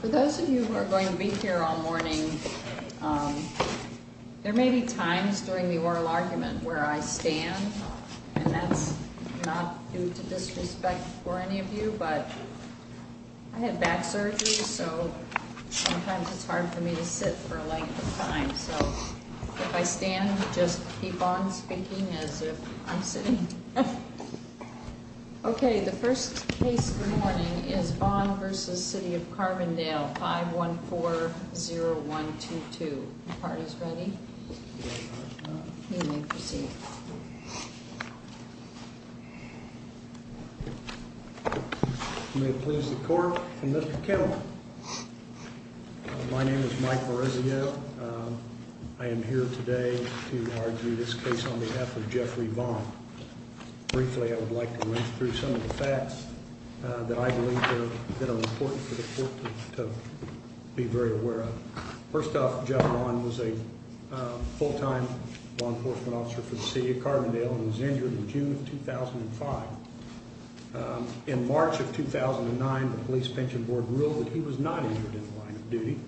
For those of you who are going to be here all morning, there may be times during the oral argument where I stand. And that's not due to disrespect for any of you, but I had back surgery, so sometimes it's hard for me to sit for a length of time. So if I stand, just keep on speaking as if I'm sitting. OK, the first case of the morning is Vaughn v. City of Carbondale, 5140122. The court is ready. You may proceed. May it please the court, Mr. Kittle. My name is Mike Morezio. I am here today to argue this case on behalf of Jeffrey Vaughn. Briefly, I would like to rinse through some of the facts that I believe are important for the court to be very aware of. First off, Jeff Vaughn was a full-time law enforcement officer for the City of Carbondale and was injured in June of 2005. In March of 2009, the Police Pension Board ruled that he was not injured in the line of duty.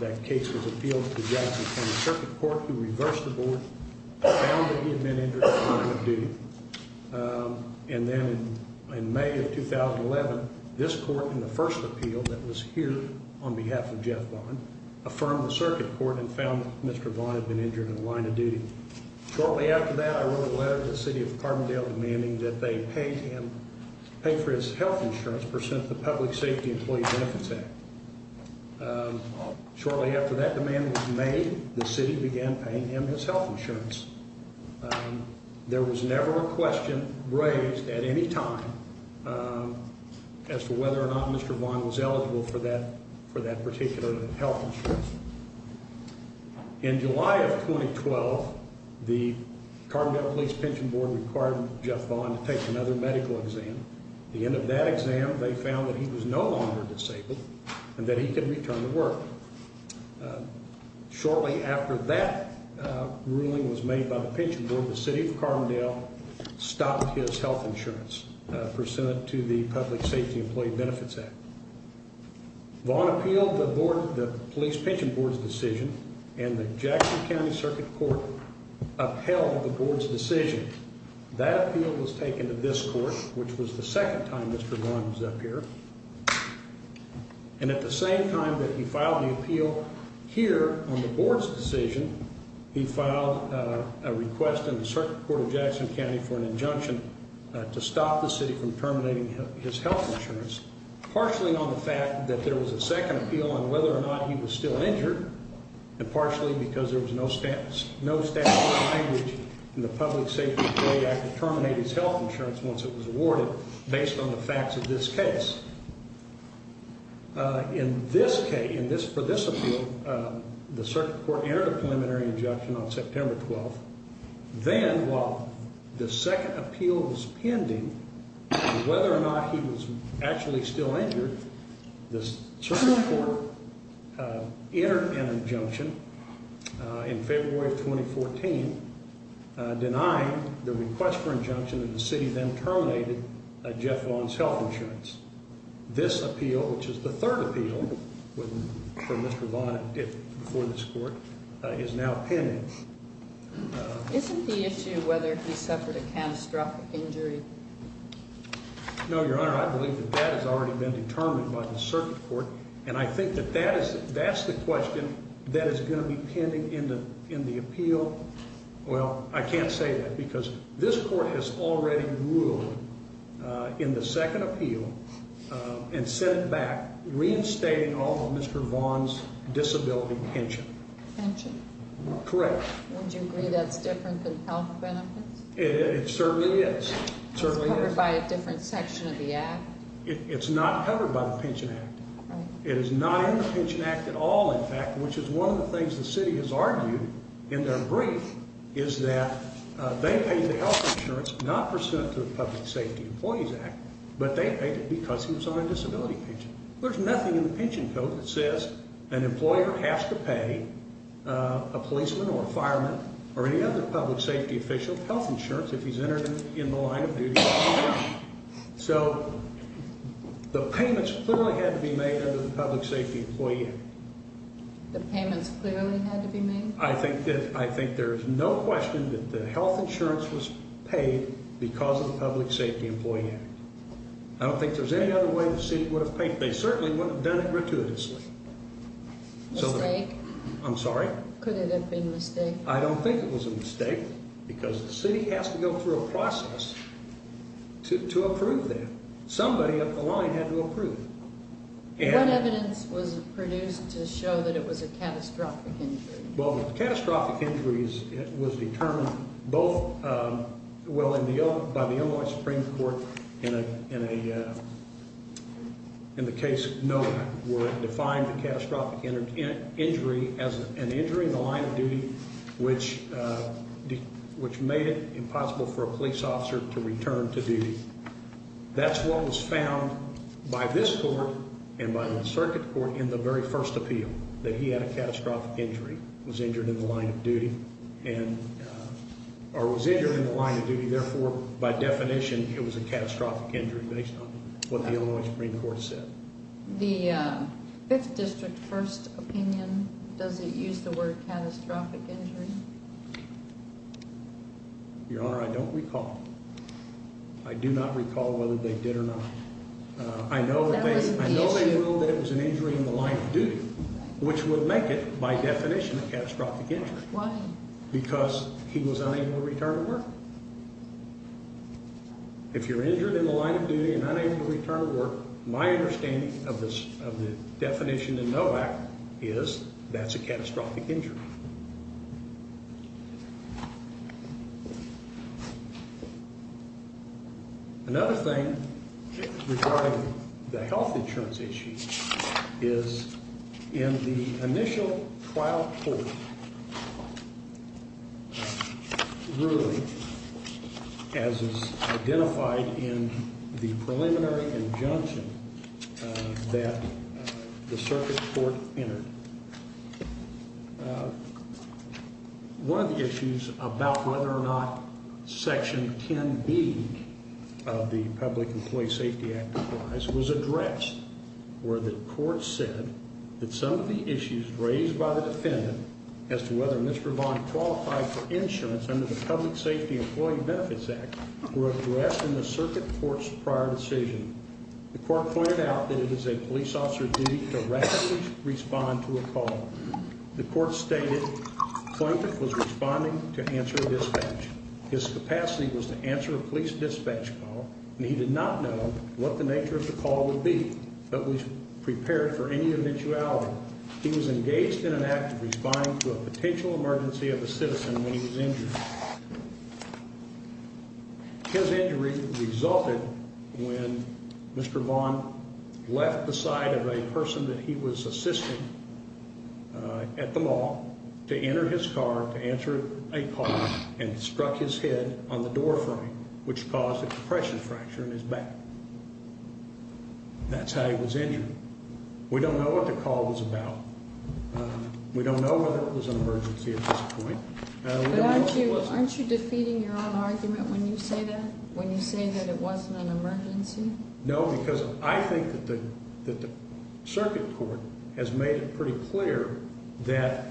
That case was appealed to the Jackson County Circuit Court, who reversed the board and found that he had been injured in the line of duty. And then in May of 2011, this court, in the first appeal that was heared on behalf of Jeff Vaughn, affirmed the Circuit Court and found that Mr. Vaughn had been injured in the line of duty. Shortly after that, I wrote a letter to the City of Carbondale demanding that they pay for his health insurance as a percentage of the Public Safety Employee Benefits Act. Shortly after that demand was made, the City began paying him his health insurance. There was never a question raised at any time as to whether or not Mr. Vaughn was eligible for that particular health insurance. In July of 2012, the Carbondale Police Pension Board required Jeff Vaughn to take another medical exam. At the end of that exam, they found that he was no longer disabled and that he could return to work. Shortly after that ruling was made by the Pension Board, the City of Carbondale stopped his health insurance pursuant to the Public Safety Employee Benefits Act. Vaughn appealed the Police Pension Board's decision, and the Jackson County Circuit Court upheld the board's decision. That appeal was taken to this court, which was the second time Mr. Vaughn was up here. And at the same time that he filed the appeal here on the board's decision, he filed a request in the Circuit Court of Jackson County for an injunction to stop the City from terminating his health insurance, partially on the fact that there was a second appeal on whether or not he was still injured, and partially because there was no statutory language in the Public Safety Employee Act to terminate his health insurance once it was awarded based on the facts of this case. In this case, for this appeal, the Circuit Court entered a preliminary injunction on September 12th. Then, while the second appeal was pending on whether or not he was actually still injured, the Circuit Court entered an injunction in February of 2014 denying the request for injunction, and the City then terminated Jeff Vaughn's health insurance. This appeal, which is the third appeal for Mr. Vaughn before this court, is now pending. Isn't the issue whether he suffered a catastrophic injury? No, Your Honor. I believe that that has already been determined by the Circuit Court, and I think that that's the question that is going to be pending in the appeal. Well, I can't say that because this court has already ruled in the second appeal and sent back reinstating all of Mr. Vaughn's disability pension. Pension? Correct. Would you agree that's different than health benefits? It certainly is. It's covered by a different section of the Act? It's not covered by the Pension Act. It is not in the Pension Act at all, in fact, which is one of the things the City has argued in their brief, is that they paid the health insurance not pursuant to the Public Safety Employees Act, but they paid it because he was on a disability pension. There's nothing in the pension code that says an employer has to pay a policeman or a fireman or any other public safety official health insurance if he's entered in the line of duty. So the payments clearly had to be made under the Public Safety Employees Act. The payments clearly had to be made? I think there's no question that the health insurance was paid because of the Public Safety Employees Act. I don't think there's any other way the City would have paid. They certainly wouldn't have done it gratuitously. I'm sorry? Could it have been a mistake? I don't think it was a mistake because the City has to go through a process to approve that. Somebody up the line had to approve. What evidence was produced to show that it was a catastrophic injury? Well, the catastrophic injuries was determined both, well, by the Illinois Supreme Court in the case Noah where it defined the catastrophic injury as an injury in the line of duty which made it impossible for a police officer to return to duty. That's what was found by this court and by the circuit court in the very first appeal, that he had a catastrophic injury, was injured in the line of duty, or was injured in the line of duty, therefore, by definition, it was a catastrophic injury based on what the Illinois Supreme Court said. The 5th District first opinion, does it use the word catastrophic injury? Your Honor, I don't recall. I do not recall whether they did or not. I know they ruled that it was an injury in the line of duty, which would make it, by definition, a catastrophic injury. Why? Because he was unable to return to work. My understanding of the definition in NOAC is that's a catastrophic injury. Another thing regarding the health insurance issue is in the initial trial court, really, as is identified in the preliminary injunction that the circuit court entered, one of the issues about whether or not Section 10B of the Public Employee Safety Act applies was addressed where the court said that some of the issues raised by the defendant as to whether Mr. Vaughn qualified for insurance under the Public Safety Employee Benefits Act were addressed in the circuit court's prior decision. The court pointed out that it is a police officer's duty to rapidly respond to a call. The court stated the plaintiff was responding to answer a dispatch. His capacity was to answer a police dispatch call, and he did not know what the nature of the call would be, but was prepared for any eventuality. He was engaged in an act of responding to a potential emergency of a citizen when he was injured. His injury resulted when Mr. Vaughn left the side of a person that he was assisting at the mall to enter his car to answer a call and struck his head on the door frame, which caused a compression fracture in his back. That's how he was injured. We don't know what the call was about. We don't know whether it was an emergency at this point. Aren't you defeating your own argument when you say that? When you say that it wasn't an emergency? No, because I think that the circuit court has made it pretty clear that,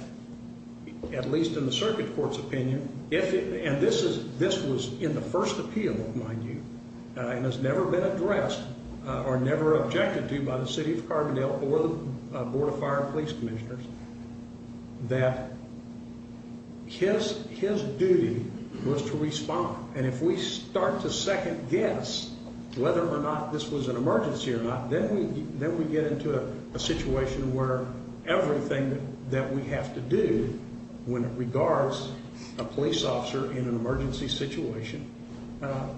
at least in the circuit court's opinion, and this was in the first appeal, mind you, and has never been addressed or never objected to by the City of Carbondale or the Board of Fire and Police Commissioners, that his duty was to respond. And if we start to second-guess whether or not this was an emergency or not, then we get into a situation where everything that we have to do when it regards a police officer in an emergency situation,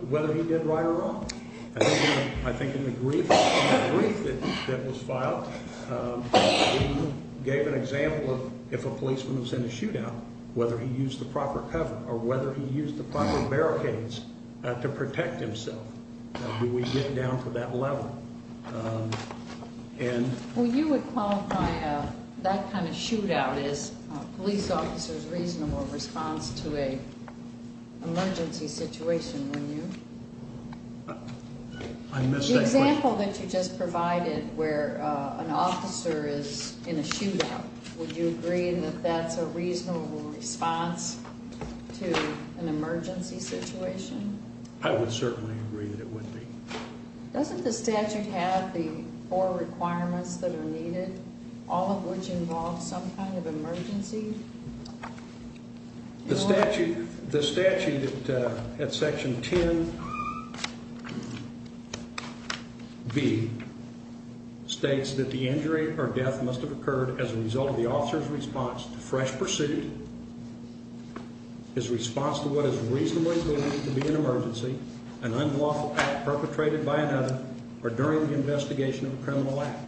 whether he did right or wrong. I think in the brief that was filed, he gave an example of if a policeman was in a shootout, whether he used the proper cover or whether he used the proper barricades to protect himself. Do we get down to that level? Well, you would qualify that kind of shootout as a police officer's reasonable response to an emergency situation, wouldn't you? I missed that point. The example that you just provided where an officer is in a shootout, would you agree that that's a reasonable response to an emergency situation? I would certainly agree that it would be. Doesn't the statute have the four requirements that are needed, all of which involve some kind of emergency? The statute at Section 10b states that the injury or death must have occurred as a result of the officer's response to fresh pursuit, his response to what is reasonably believed to be an emergency, an unlawful act perpetrated by another, or during the investigation of a criminal act.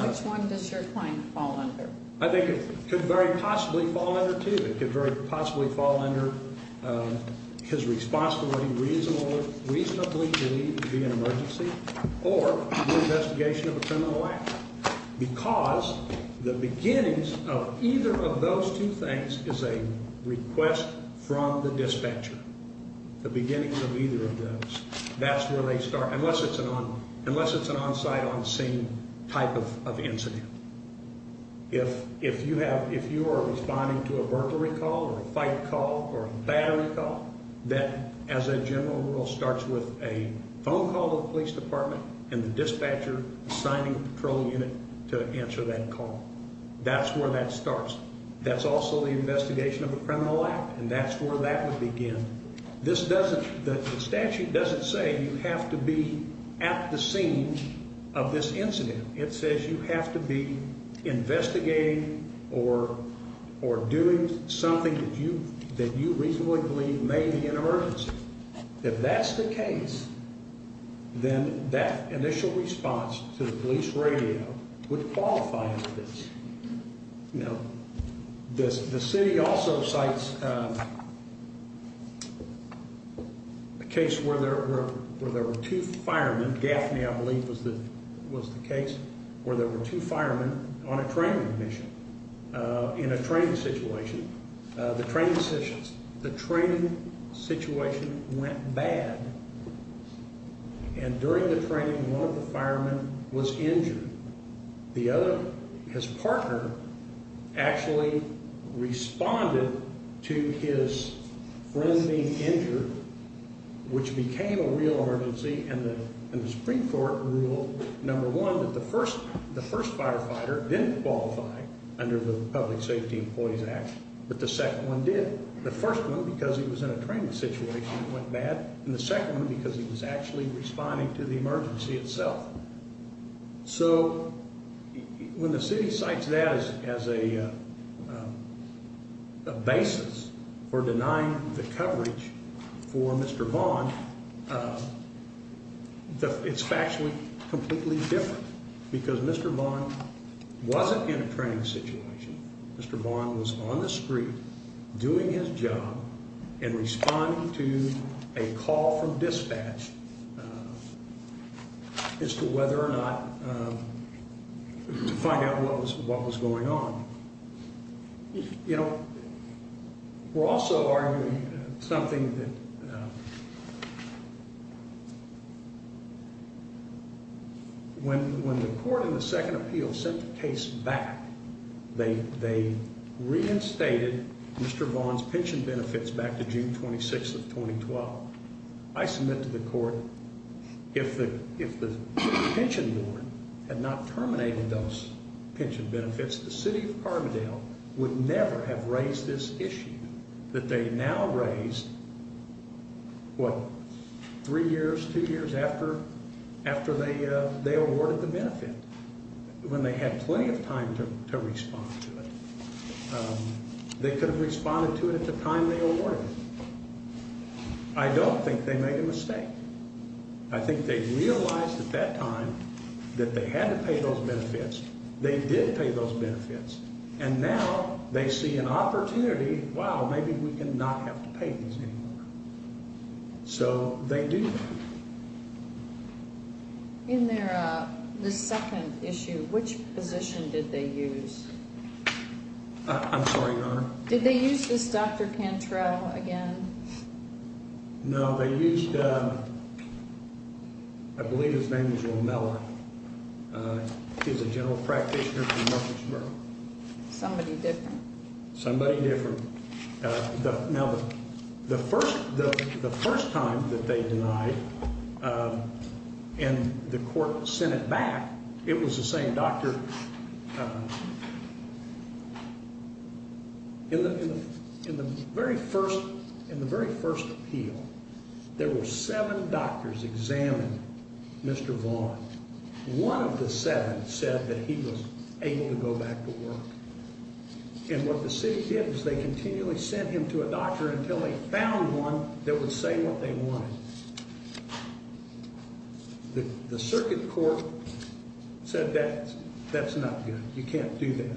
Which one does your claim fall under? I think it could very possibly fall under two. It could very possibly fall under his response to what he reasonably believed to be an emergency or the investigation of a criminal act because the beginnings of either of those two things is a request from the dispatcher. The beginnings of either of those. That's where they start, unless it's an on-site, on-scene type of incident. If you are responding to a burglary call or a fight call or a battery call, that, as a general rule, starts with a phone call to the police department and the dispatcher assigning a patrol unit to answer that call. That's where that starts. That's also the investigation of a criminal act, and that's where that would begin. The statute doesn't say you have to be at the scene of this incident. It says you have to be investigating or doing something that you reasonably believe may be an emergency. If that's the case, then that initial response to the police radio would qualify as this. Now, the city also cites a case where there were two firemen. Gaffney, I believe, was the case where there were two firemen on a training mission. In a training situation, the training situation went bad, and during the training, one of the firemen was injured. The other, his partner, actually responded to his friend being injured, which became a real emergency, and the Supreme Court ruled, number one, that the first firefighter didn't qualify under the Public Safety Employees Act, but the second one did. The first one, because he was in a training situation, went bad, and the second one, because he was actually responding to the emergency itself. So when the city cites that as a basis for denying the coverage for Mr. Bond, it's actually completely different, because Mr. Bond wasn't in a training situation. Mr. Bond was on the street doing his job and responding to a call from dispatch. As to whether or not to find out what was going on. You know, we're also arguing something that when the court in the second appeal sent the case back, they reinstated Mr. Bond's pension benefits back to June 26th of 2012. I submit to the court, if the pension board had not terminated those pension benefits, the city of Carbondale would never have raised this issue, that they now raise, what, three years, two years after they awarded the benefit, when they had plenty of time to respond to it. They could have responded to it at the time they awarded it. I don't think they made a mistake. I think they realized at that time that they had to pay those benefits. They did pay those benefits. And now they see an opportunity, wow, maybe we can not have to pay these anymore. So they do that. In the second issue, which position did they use? I'm sorry, Your Honor? Did they use this Dr. Cantrell again? No, they used, I believe his name was Will Miller. He's a general practitioner from Memphis, Maryland. Somebody different. Somebody different. Now, the first time that they denied and the court sent it back, it was the same doctor. In the very first appeal, there were seven doctors examining Mr. Vaughn. One of the seven said that he was able to go back to work. And what the city did was they continually sent him to a doctor until they found one that would say what they wanted. The circuit court said that's not good. You can't do that.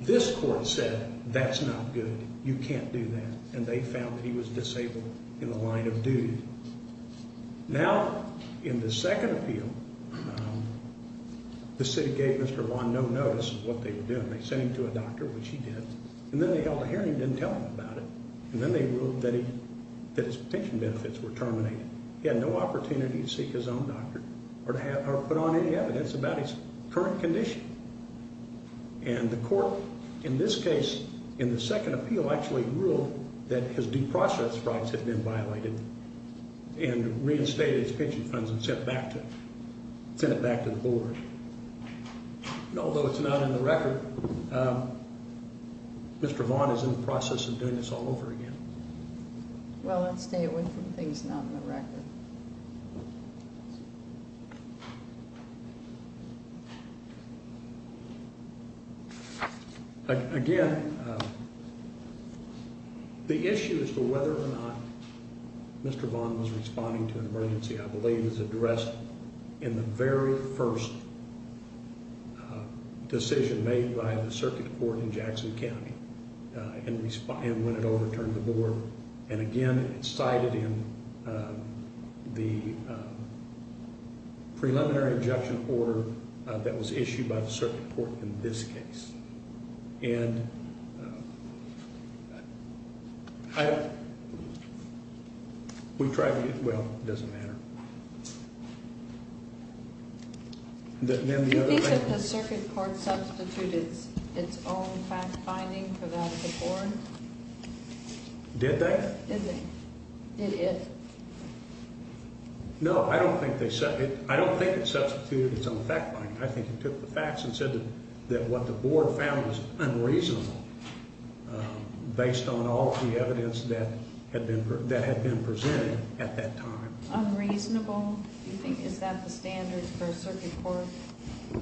This court said that's not good. You can't do that. And they found that he was disabled in the line of duty. Now, in the second appeal, the city gave Mr. Vaughn no notice of what they were doing. They sent him to a doctor, which he did. And then they held a hearing and didn't tell him about it. And then they ruled that his pension benefits were terminated. He had no opportunity to seek his own doctor or put on any evidence about his current condition. And the court, in this case, in the second appeal, actually ruled that his deprocessed rights had been violated and reinstated his pension funds and sent it back to the board. Although it's not in the record, Mr. Vaughn is in the process of doing this all over again. Well, let's stay away from things not in the record. Again, the issue as to whether or not Mr. Vaughn was responding to an emergency, I believe, is addressed in the very first decision made by the circuit court in Jackson County and when it overturned the board. And again, it's cited in the preliminary injunction order that was issued by the circuit court in this case. We tried to get—well, it doesn't matter. Do you think that the circuit court substituted its own fact-finding for that report? Did they? Did they? Did it? No, I don't think they—I don't think it substituted its own fact-finding. I think it took the facts and said that what the board found was unreasonable based on all the evidence that had been presented at that time. Unreasonable? Do you think is that the standard for a circuit court?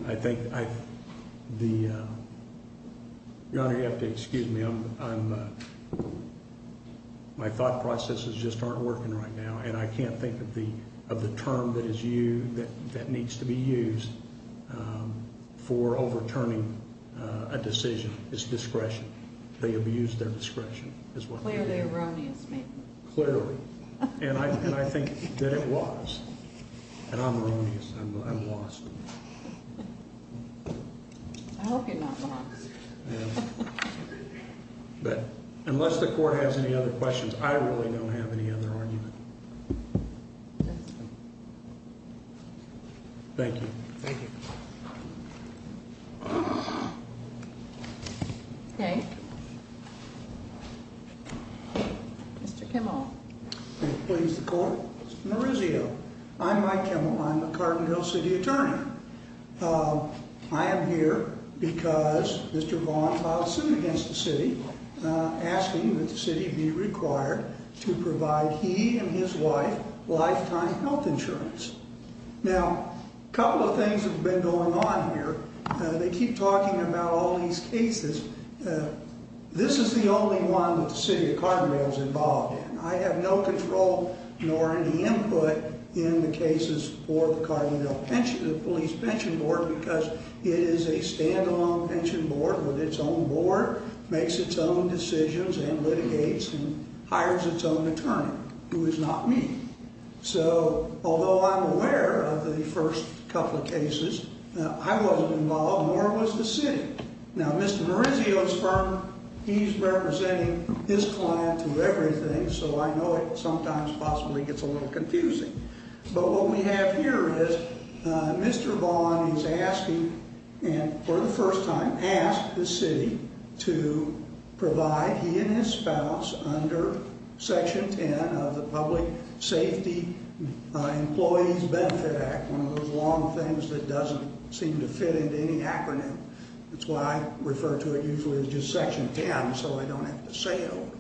I think I—the—Your Honor, you have to excuse me. I'm—my thought processes just aren't working right now and I can't think of the term that is used—that needs to be used for overturning a decision. It's discretion. They abused their discretion. Clearly erroneous, ma'am. Clearly. And I think that it was. And I'm erroneous. I'm lost. I hope you're not lost. But unless the court has any other questions, I really don't have any other argument. Thank you. Thank you. Okay. Mr. Kimball. Please, the court. Mr. Marizio. I'm Mike Kimball. I'm the Cardinville City Attorney. I am here because Mr. Vaughn filed a suit against the city asking that the city be required to provide he and his wife lifetime health insurance. Now, a couple of things have been going on here. They keep talking about all these cases. This is the only one that the city of Cardinville is involved in. I have no control nor any input in the cases for the Cardinville Police Pension Board because it is a standalone pension board with its own board, makes its own decisions and litigates and hires its own attorney, who is not me. So, although I'm aware of the first couple of cases, I wasn't involved, nor was the city. Now, Mr. Marizio's firm, he's representing his client through everything, so I know it sometimes possibly gets a little confusing. But what we have here is Mr. Vaughn is asking, for the first time, asked the city to provide he and his spouse under Section 10 of the Public Safety Employees Benefit Act, one of those long things that doesn't seem to fit into any acronym. That's why I refer to it usually as just Section 10 so I don't have to say it over.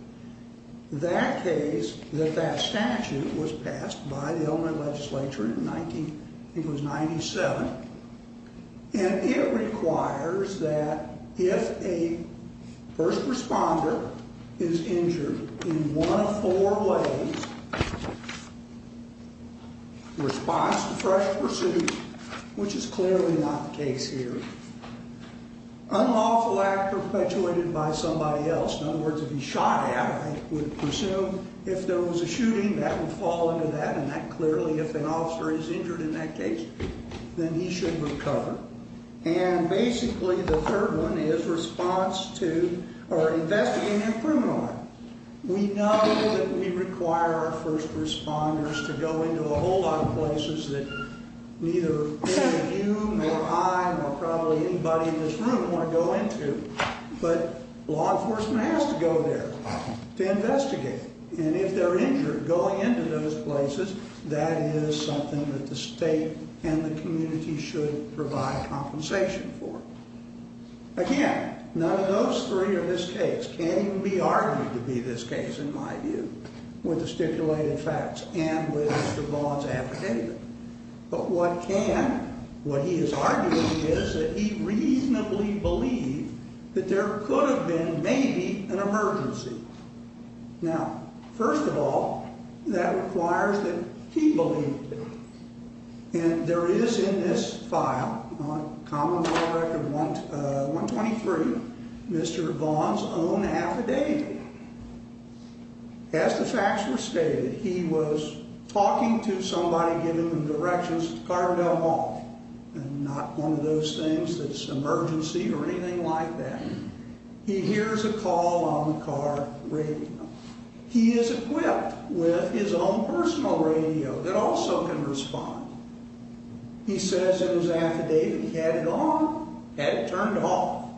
That case, that statute was passed by the Illinois legislature in 1997, and it requires that if a first responder is injured in one of four ways, response to fresh pursuit, which is clearly not the case here, unlawful act perpetuated by somebody else, in other words, if he's shot at, I would presume if there was a shooting, that would fall into that, and that clearly, if an officer is injured in that case, then he should recover. And basically, the third one is response to or investigating a criminal act. We know that we require our first responders to go into a whole lot of places that neither any of you, nor I, nor probably anybody in this room want to go into, but law enforcement has to go there to investigate. And if they're injured going into those places, that is something that the state and the community should provide compensation for. Again, none of those three in this case can even be argued to be this case, in my view, with the stipulated facts and with Mr. Vaughn's application. But what can, what he is arguing is that he reasonably believed that there could have been maybe an emergency. Now, first of all, that requires that he believed it. And there is in this file, Common Law Record 123, Mr. Vaughn's own affidavit. As the facts were stated, he was talking to somebody, giving them directions to Carbondale Hall, and not one of those things that's emergency or anything like that. He hears a call on the car radio. He is equipped with his own personal radio that also can respond. He says in his affidavit he had it on, had it turned off,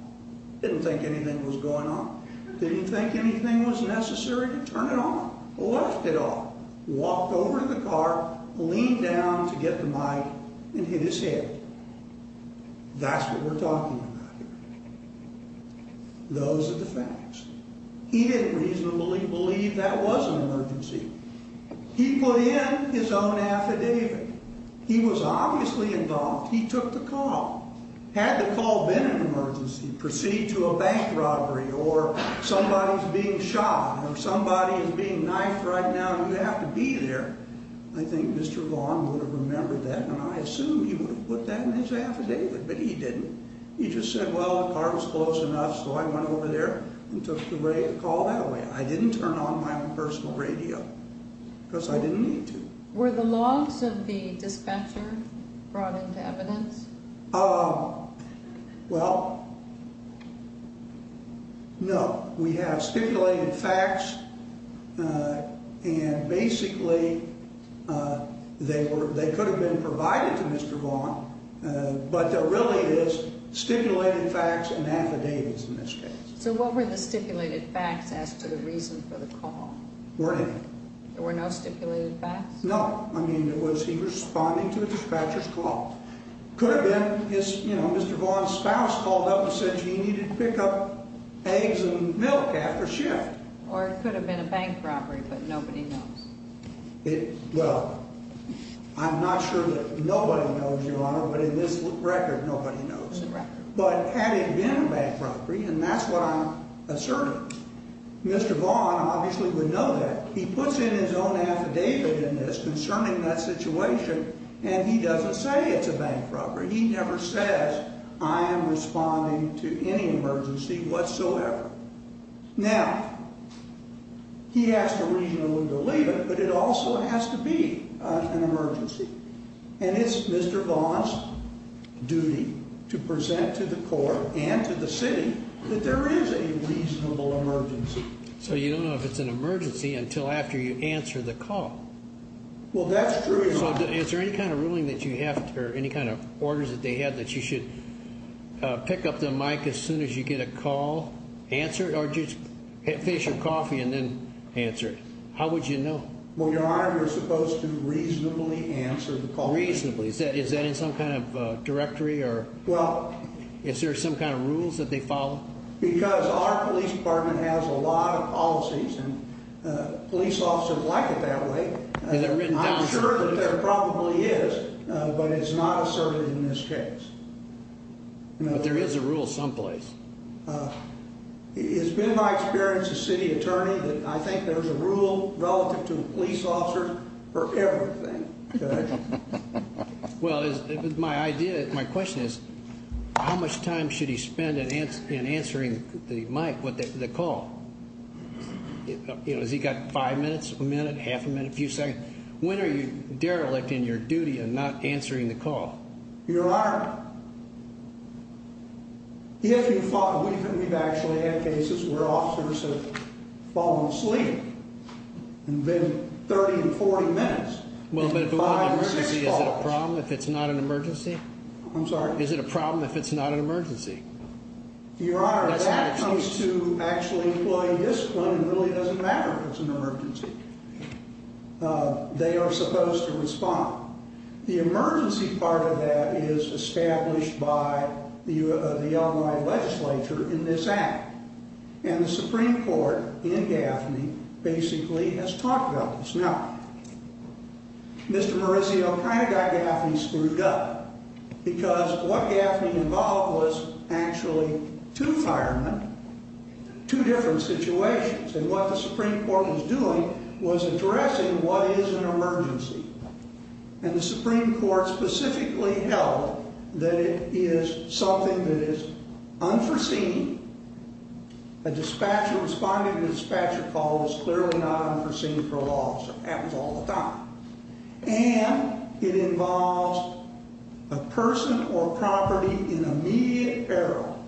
didn't think anything was going on, didn't think anything was necessary to turn it off, left it off, walked over to the car, leaned down to get the mic, and hit his head. That's what we're talking about here. Those are the facts. He didn't reasonably believe that was an emergency. He put in his own affidavit. He was obviously involved. He took the call. Had the call been an emergency, proceed to a bank robbery or somebody's being shot or somebody is being knifed right now and you have to be there, I think Mr. Vaughn would have remembered that, and I assume he would have put that in his affidavit. But he didn't. He just said, well, the car was close enough, so I went over there and took the call that way. I didn't turn on my own personal radio because I didn't need to. Were the logs of the dispatcher brought into evidence? Well, no. We have stipulated facts, and basically they could have been provided to Mr. Vaughn, but there really is stipulated facts and affidavits in this case. So what were the stipulated facts as to the reason for the call? There were no stipulated facts? No. I mean, was he responding to a dispatcher's call? Could have been Mr. Vaughn's spouse called up and said he needed to pick up eggs and milk after shift. Or it could have been a bank robbery, but nobody knows. Well, I'm not sure that nobody knows, Your Honor, but in this record, nobody knows. But had it been a bank robbery, and that's what I'm asserting, Mr. Vaughn obviously would know that. He puts in his own affidavit in this concerning that situation, and he doesn't say it's a bank robbery. He never says, I am responding to any emergency whatsoever. Now, he has to reasonably believe it, but it also has to be an emergency. And it's Mr. Vaughn's duty to present to the court and to the city that there is a reasonable emergency. So you don't know if it's an emergency until after you answer the call? Well, that's true, Your Honor. So is there any kind of ruling that you have, or any kind of orders that they have, that you should pick up the mic as soon as you get a call, answer it, or just finish your coffee and then answer it? How would you know? Well, Your Honor, you're supposed to reasonably answer the call. Reasonably. Is that in some kind of directory, or is there some kind of rules that they follow? Because our police department has a lot of policies, and police officers like it that way. I'm sure that there probably is, but it's not asserted in this case. But there is a rule someplace. It's been my experience as city attorney that I think there's a rule relative to police officers for everything. Well, my question is, how much time should he spend in answering the call? Has he got five minutes, a minute, half a minute, a few seconds? When are you derelict in your duty of not answering the call? Your Honor, if you thought, we've actually had cases where officers have fallen asleep and been 30 to 40 minutes. Is it a problem if it's not an emergency? I'm sorry? Is it a problem if it's not an emergency? Your Honor, that comes to actually employing discipline, and it really doesn't matter if it's an emergency. They are supposed to respond. The emergency part of that is established by the Illinois legislature in this act. And the Supreme Court in Gaffney basically has talked about this. Now, Mr. Maurizio kind of got Gaffney screwed up because what Gaffney involved was actually two firemen, two different situations. And what the Supreme Court was doing was addressing what is an emergency. And the Supreme Court specifically held that it is something that is unforeseen. A dispatcher responding to a dispatcher call is clearly not unforeseen for a law officer. It happens all the time. And it involves a person or property in immediate peril.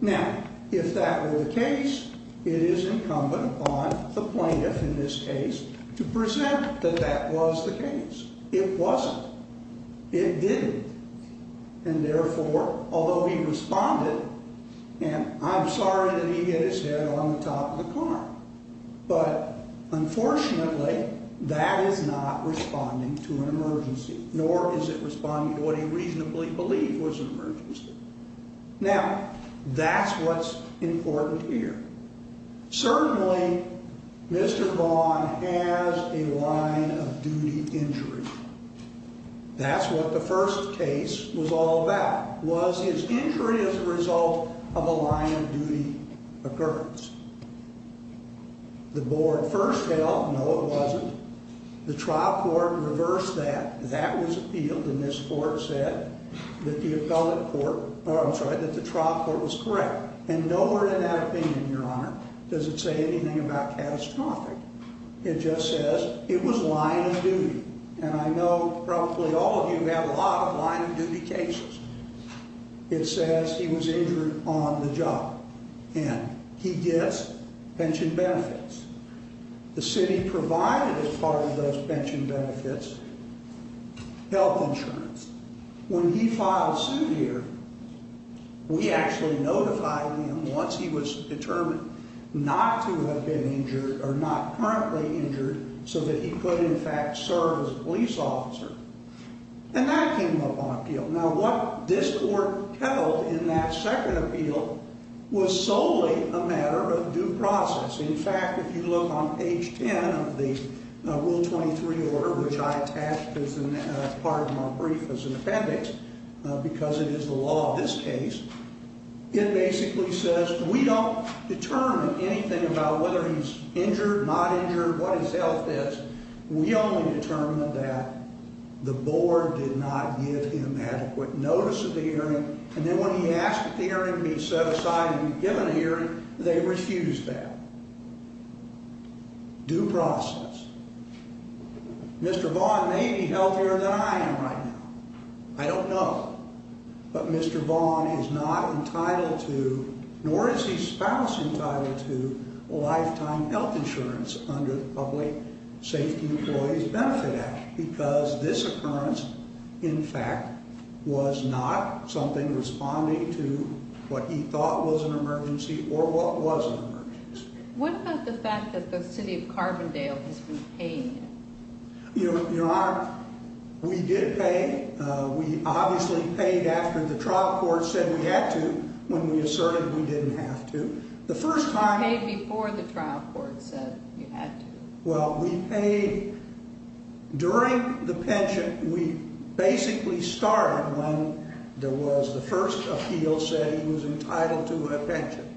Now, if that were the case, it is incumbent upon the plaintiff in this case to present that that was the case. It wasn't. It didn't. And therefore, although he responded, and I'm sorry that he hit his head on the top of the car, but unfortunately, that is not responding to an emergency, nor is it responding to what he reasonably believed was an emergency. Now, that's what's important here. Certainly, Mr. Vaughan has a line of duty injury. That's what the first case was all about, was his injury as a result of a line of duty occurrence. The board first held, no, it wasn't. The trial court reversed that. That was appealed, and this court said that the appellate court, or I'm sorry, that the trial court was correct. And nowhere in that opinion, Your Honor, does it say anything about catastrophic. It just says it was line of duty. And I know probably all of you have a lot of line of duty cases. It says he was injured on the job. And he gets pension benefits. The city provided as part of those pension benefits health insurance. When he filed suit here, we actually notified him once he was determined not to have been injured or not currently injured so that he could, in fact, serve as a police officer. And that came up on appeal. Now, what this court held in that second appeal was solely a matter of due process. In fact, if you look on page 10 of the Rule 23 order, which I attached as part of my brief as an appendix, because it is the law of this case, it basically says we don't determine anything about whether he's injured, not injured, what his health is. We only determine that the board did not give him adequate notice of the hearing. And then when he asked that the hearing be set aside and given a hearing, they refused that. Due process. Mr. Vaughn may be healthier than I am right now. I don't know. But Mr. Vaughn is not entitled to, nor is his spouse entitled to, lifetime health insurance under the Public Safety Employees Benefit Act because this occurrence, in fact, was not something responding to what he thought was an emergency or what was an emergency. What about the fact that the city of Carbondale has been paid? Your Honor, we did pay. We obviously paid after the trial court said we had to when we asserted we didn't have to. You paid before the trial court said you had to. Well, we paid during the pension. We basically started when there was the first appeal saying he was entitled to a pension.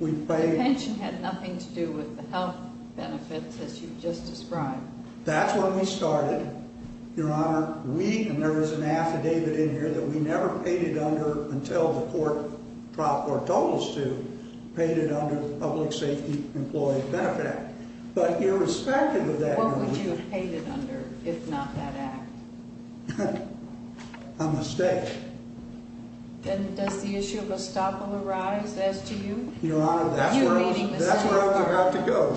The pension had nothing to do with the health benefits as you've just described. That's when we started, Your Honor. We, and there is an affidavit in here that we never paid it under until the trial court told us to, paid it under the Public Safety Employees Benefit Act. But irrespective of that, Your Honor. What would you have paid it under if not that act? A mistake. Then does the issue of estoppel arise as to you? Your Honor, that's where I was about to go.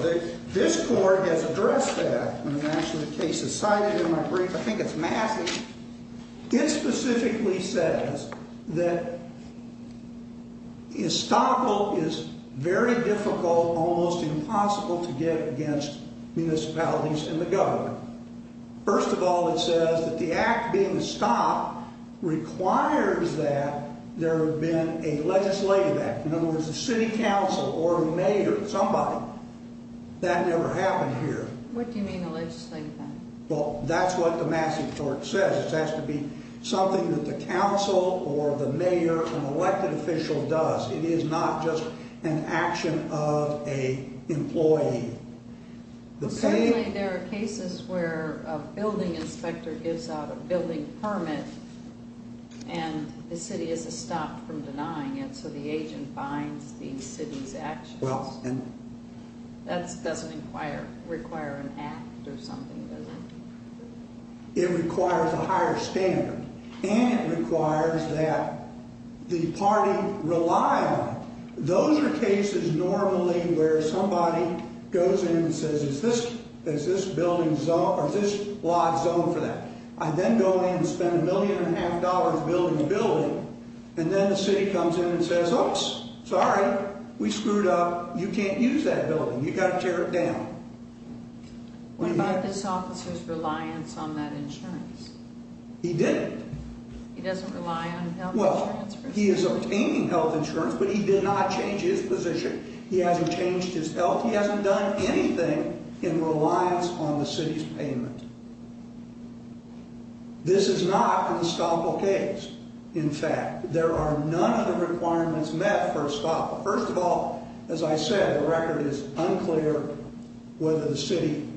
This court has addressed that in the national case. It's cited in my brief. I think it's massive. It specifically says that estoppel is very difficult, almost impossible to get against municipalities and the government. First of all, it says that the act being estoppel requires that there have been a legislative act. In other words, the city council or the mayor, somebody, that never happened here. What do you mean a legislative act? Well, that's what the massive tort says. It has to be something that the council or the mayor, an elected official, does. It is not just an action of an employee. Certainly there are cases where a building inspector gives out a building permit and the city is estopped from denying it, so the agent binds the city's actions. That doesn't require an act or something, does it? It requires a higher standard, and it requires that the party rely on it. Those are cases normally where somebody goes in and says, is this lot zoned for that? I then go in and spend a million and a half dollars building a building, and then the city comes in and says, oops, sorry, we screwed up. You can't use that building. You've got to tear it down. What about this officer's reliance on that insurance? He didn't. He doesn't rely on health insurance? Well, he is obtaining health insurance, but he did not change his position. He hasn't changed his health. He hasn't done anything in reliance on the city's payment. This is not an estoppel case, in fact. There are none of the requirements met for estoppel. First of all, as I said, the record is unclear whether the city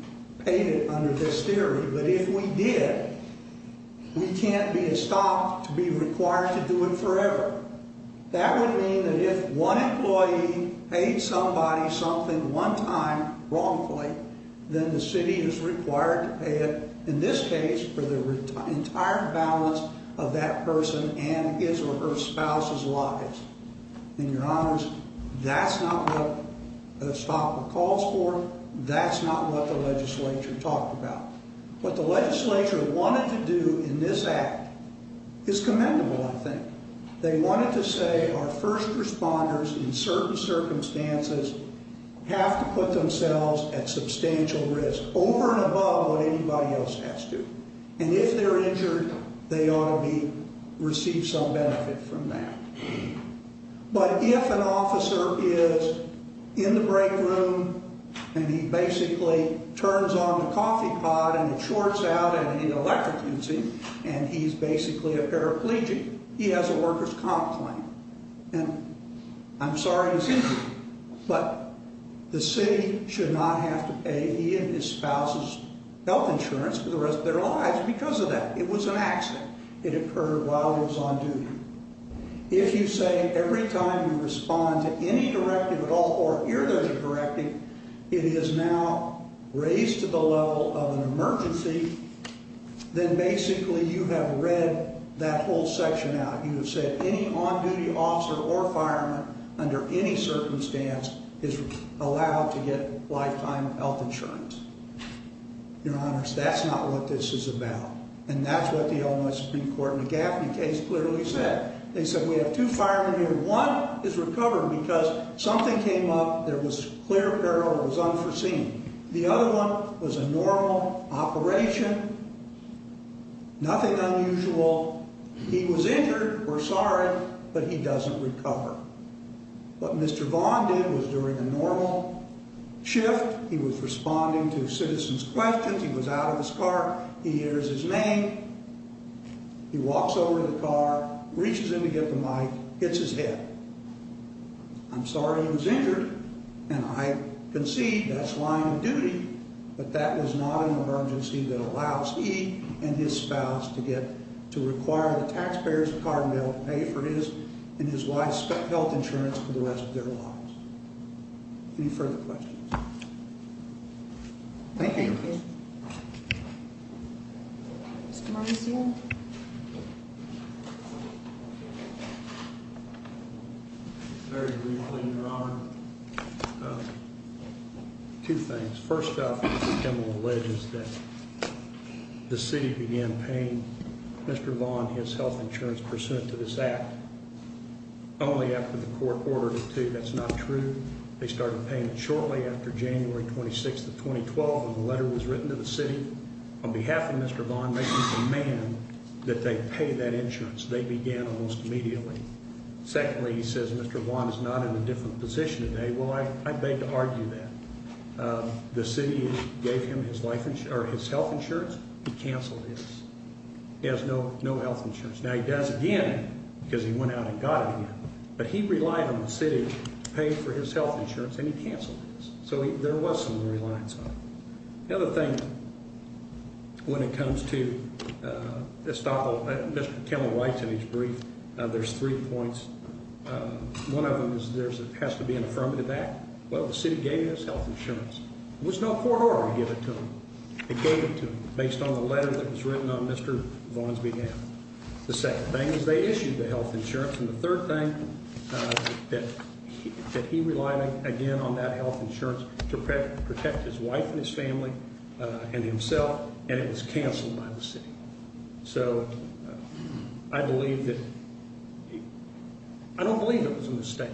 paid it under this theory, but if we did, we can't be estopped to be required to do it forever. That would mean that if one employee paid somebody something one time wrongfully, then the city is required to pay it, in this case, for the entire balance of that person and his or her spouse's lives. And, Your Honors, that's not what estoppel calls for. That's not what the legislature talked about. What the legislature wanted to do in this act is commendable, I think. They wanted to say our first responders, in certain circumstances, have to put themselves at substantial risk, over and above what anybody else has to. And if they're injured, they ought to receive some benefit from that. But if an officer is in the break room and he basically turns on the coffee pot and it shorts out and he's electrocuting and he's basically a paraplegic, he has a worker's comp claim, and I'm sorry he's injured, but the city should not have to pay he and his spouse's health insurance for the rest of their lives because of that. It was an accident. It occurred while he was on duty. If you say every time you respond to any directive at all or hear the directive, it is now raised to the level of an emergency, then basically you have read that whole section out. You have said any on-duty officer or fireman under any circumstance is allowed to get lifetime health insurance. Your Honors, that's not what this is about. And that's what the Illinois Supreme Court McGaffney case clearly said. They said we have two firemen here. One is recovered because something came up. There was clear peril. It was unforeseen. The other one was a normal operation, nothing unusual. He was injured or sorry, but he doesn't recover. What Mr. Vaughn did was during a normal shift, he was responding to citizens' questions. He was out of his car. He hears his name. He walks over to the car, reaches in to get the mic, hits his head. I'm sorry he was injured, and I concede that's line of duty, but that was not an emergency that allows he and his spouse to get to require the taxpayers of Carbondale to pay for his and his wife's health insurance for the rest of their lives. Any further questions? Thank you. Thank you. Mr. Morrissey? Very briefly, Your Honor. Two things. First off, the gentleman alleged that the city began paying Mr. Vaughn his health insurance pursuant to this act only after the court ordered it to. That's not true. They started paying it shortly after January 26th of 2012 when the letter was written to the city on behalf of Mr. Vaughn making a demand that they pay that insurance. They began almost immediately. Secondly, he says Mr. Vaughn is not in a different position today. Well, I beg to argue that. The city gave him his health insurance. He canceled his. He has no health insurance. Now, he does again because he went out and got it again, but he relied on the city to pay for his health insurance, and he canceled his. So there was some reliance on it. The other thing when it comes to Estoppel, Mr. Kendall writes in his brief, there's three points. One of them is there has to be an affirmative act. Well, the city gave him his health insurance. There was no court order to give it to him. They gave it to him based on the letter that was written on Mr. Vaughn's behalf. The second thing is they issued the health insurance. And the third thing, that he relied again on that health insurance to protect his wife and his family and himself, and it was canceled by the city. So I believe that he – I don't believe it was a mistake.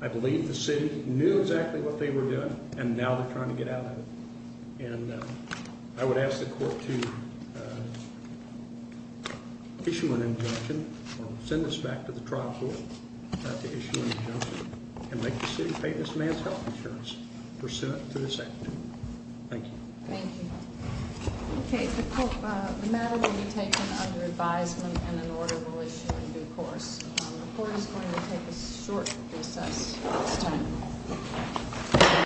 I believe the city knew exactly what they were doing, and now they're trying to get out of it. And I would ask the court to issue an injunction or send this back to the trial court to issue an injunction and make the city pay this man's health insurance for Senate to the Senate. Thank you. Thank you. Okay, the matter will be taken under advisement and an order will issue in due course.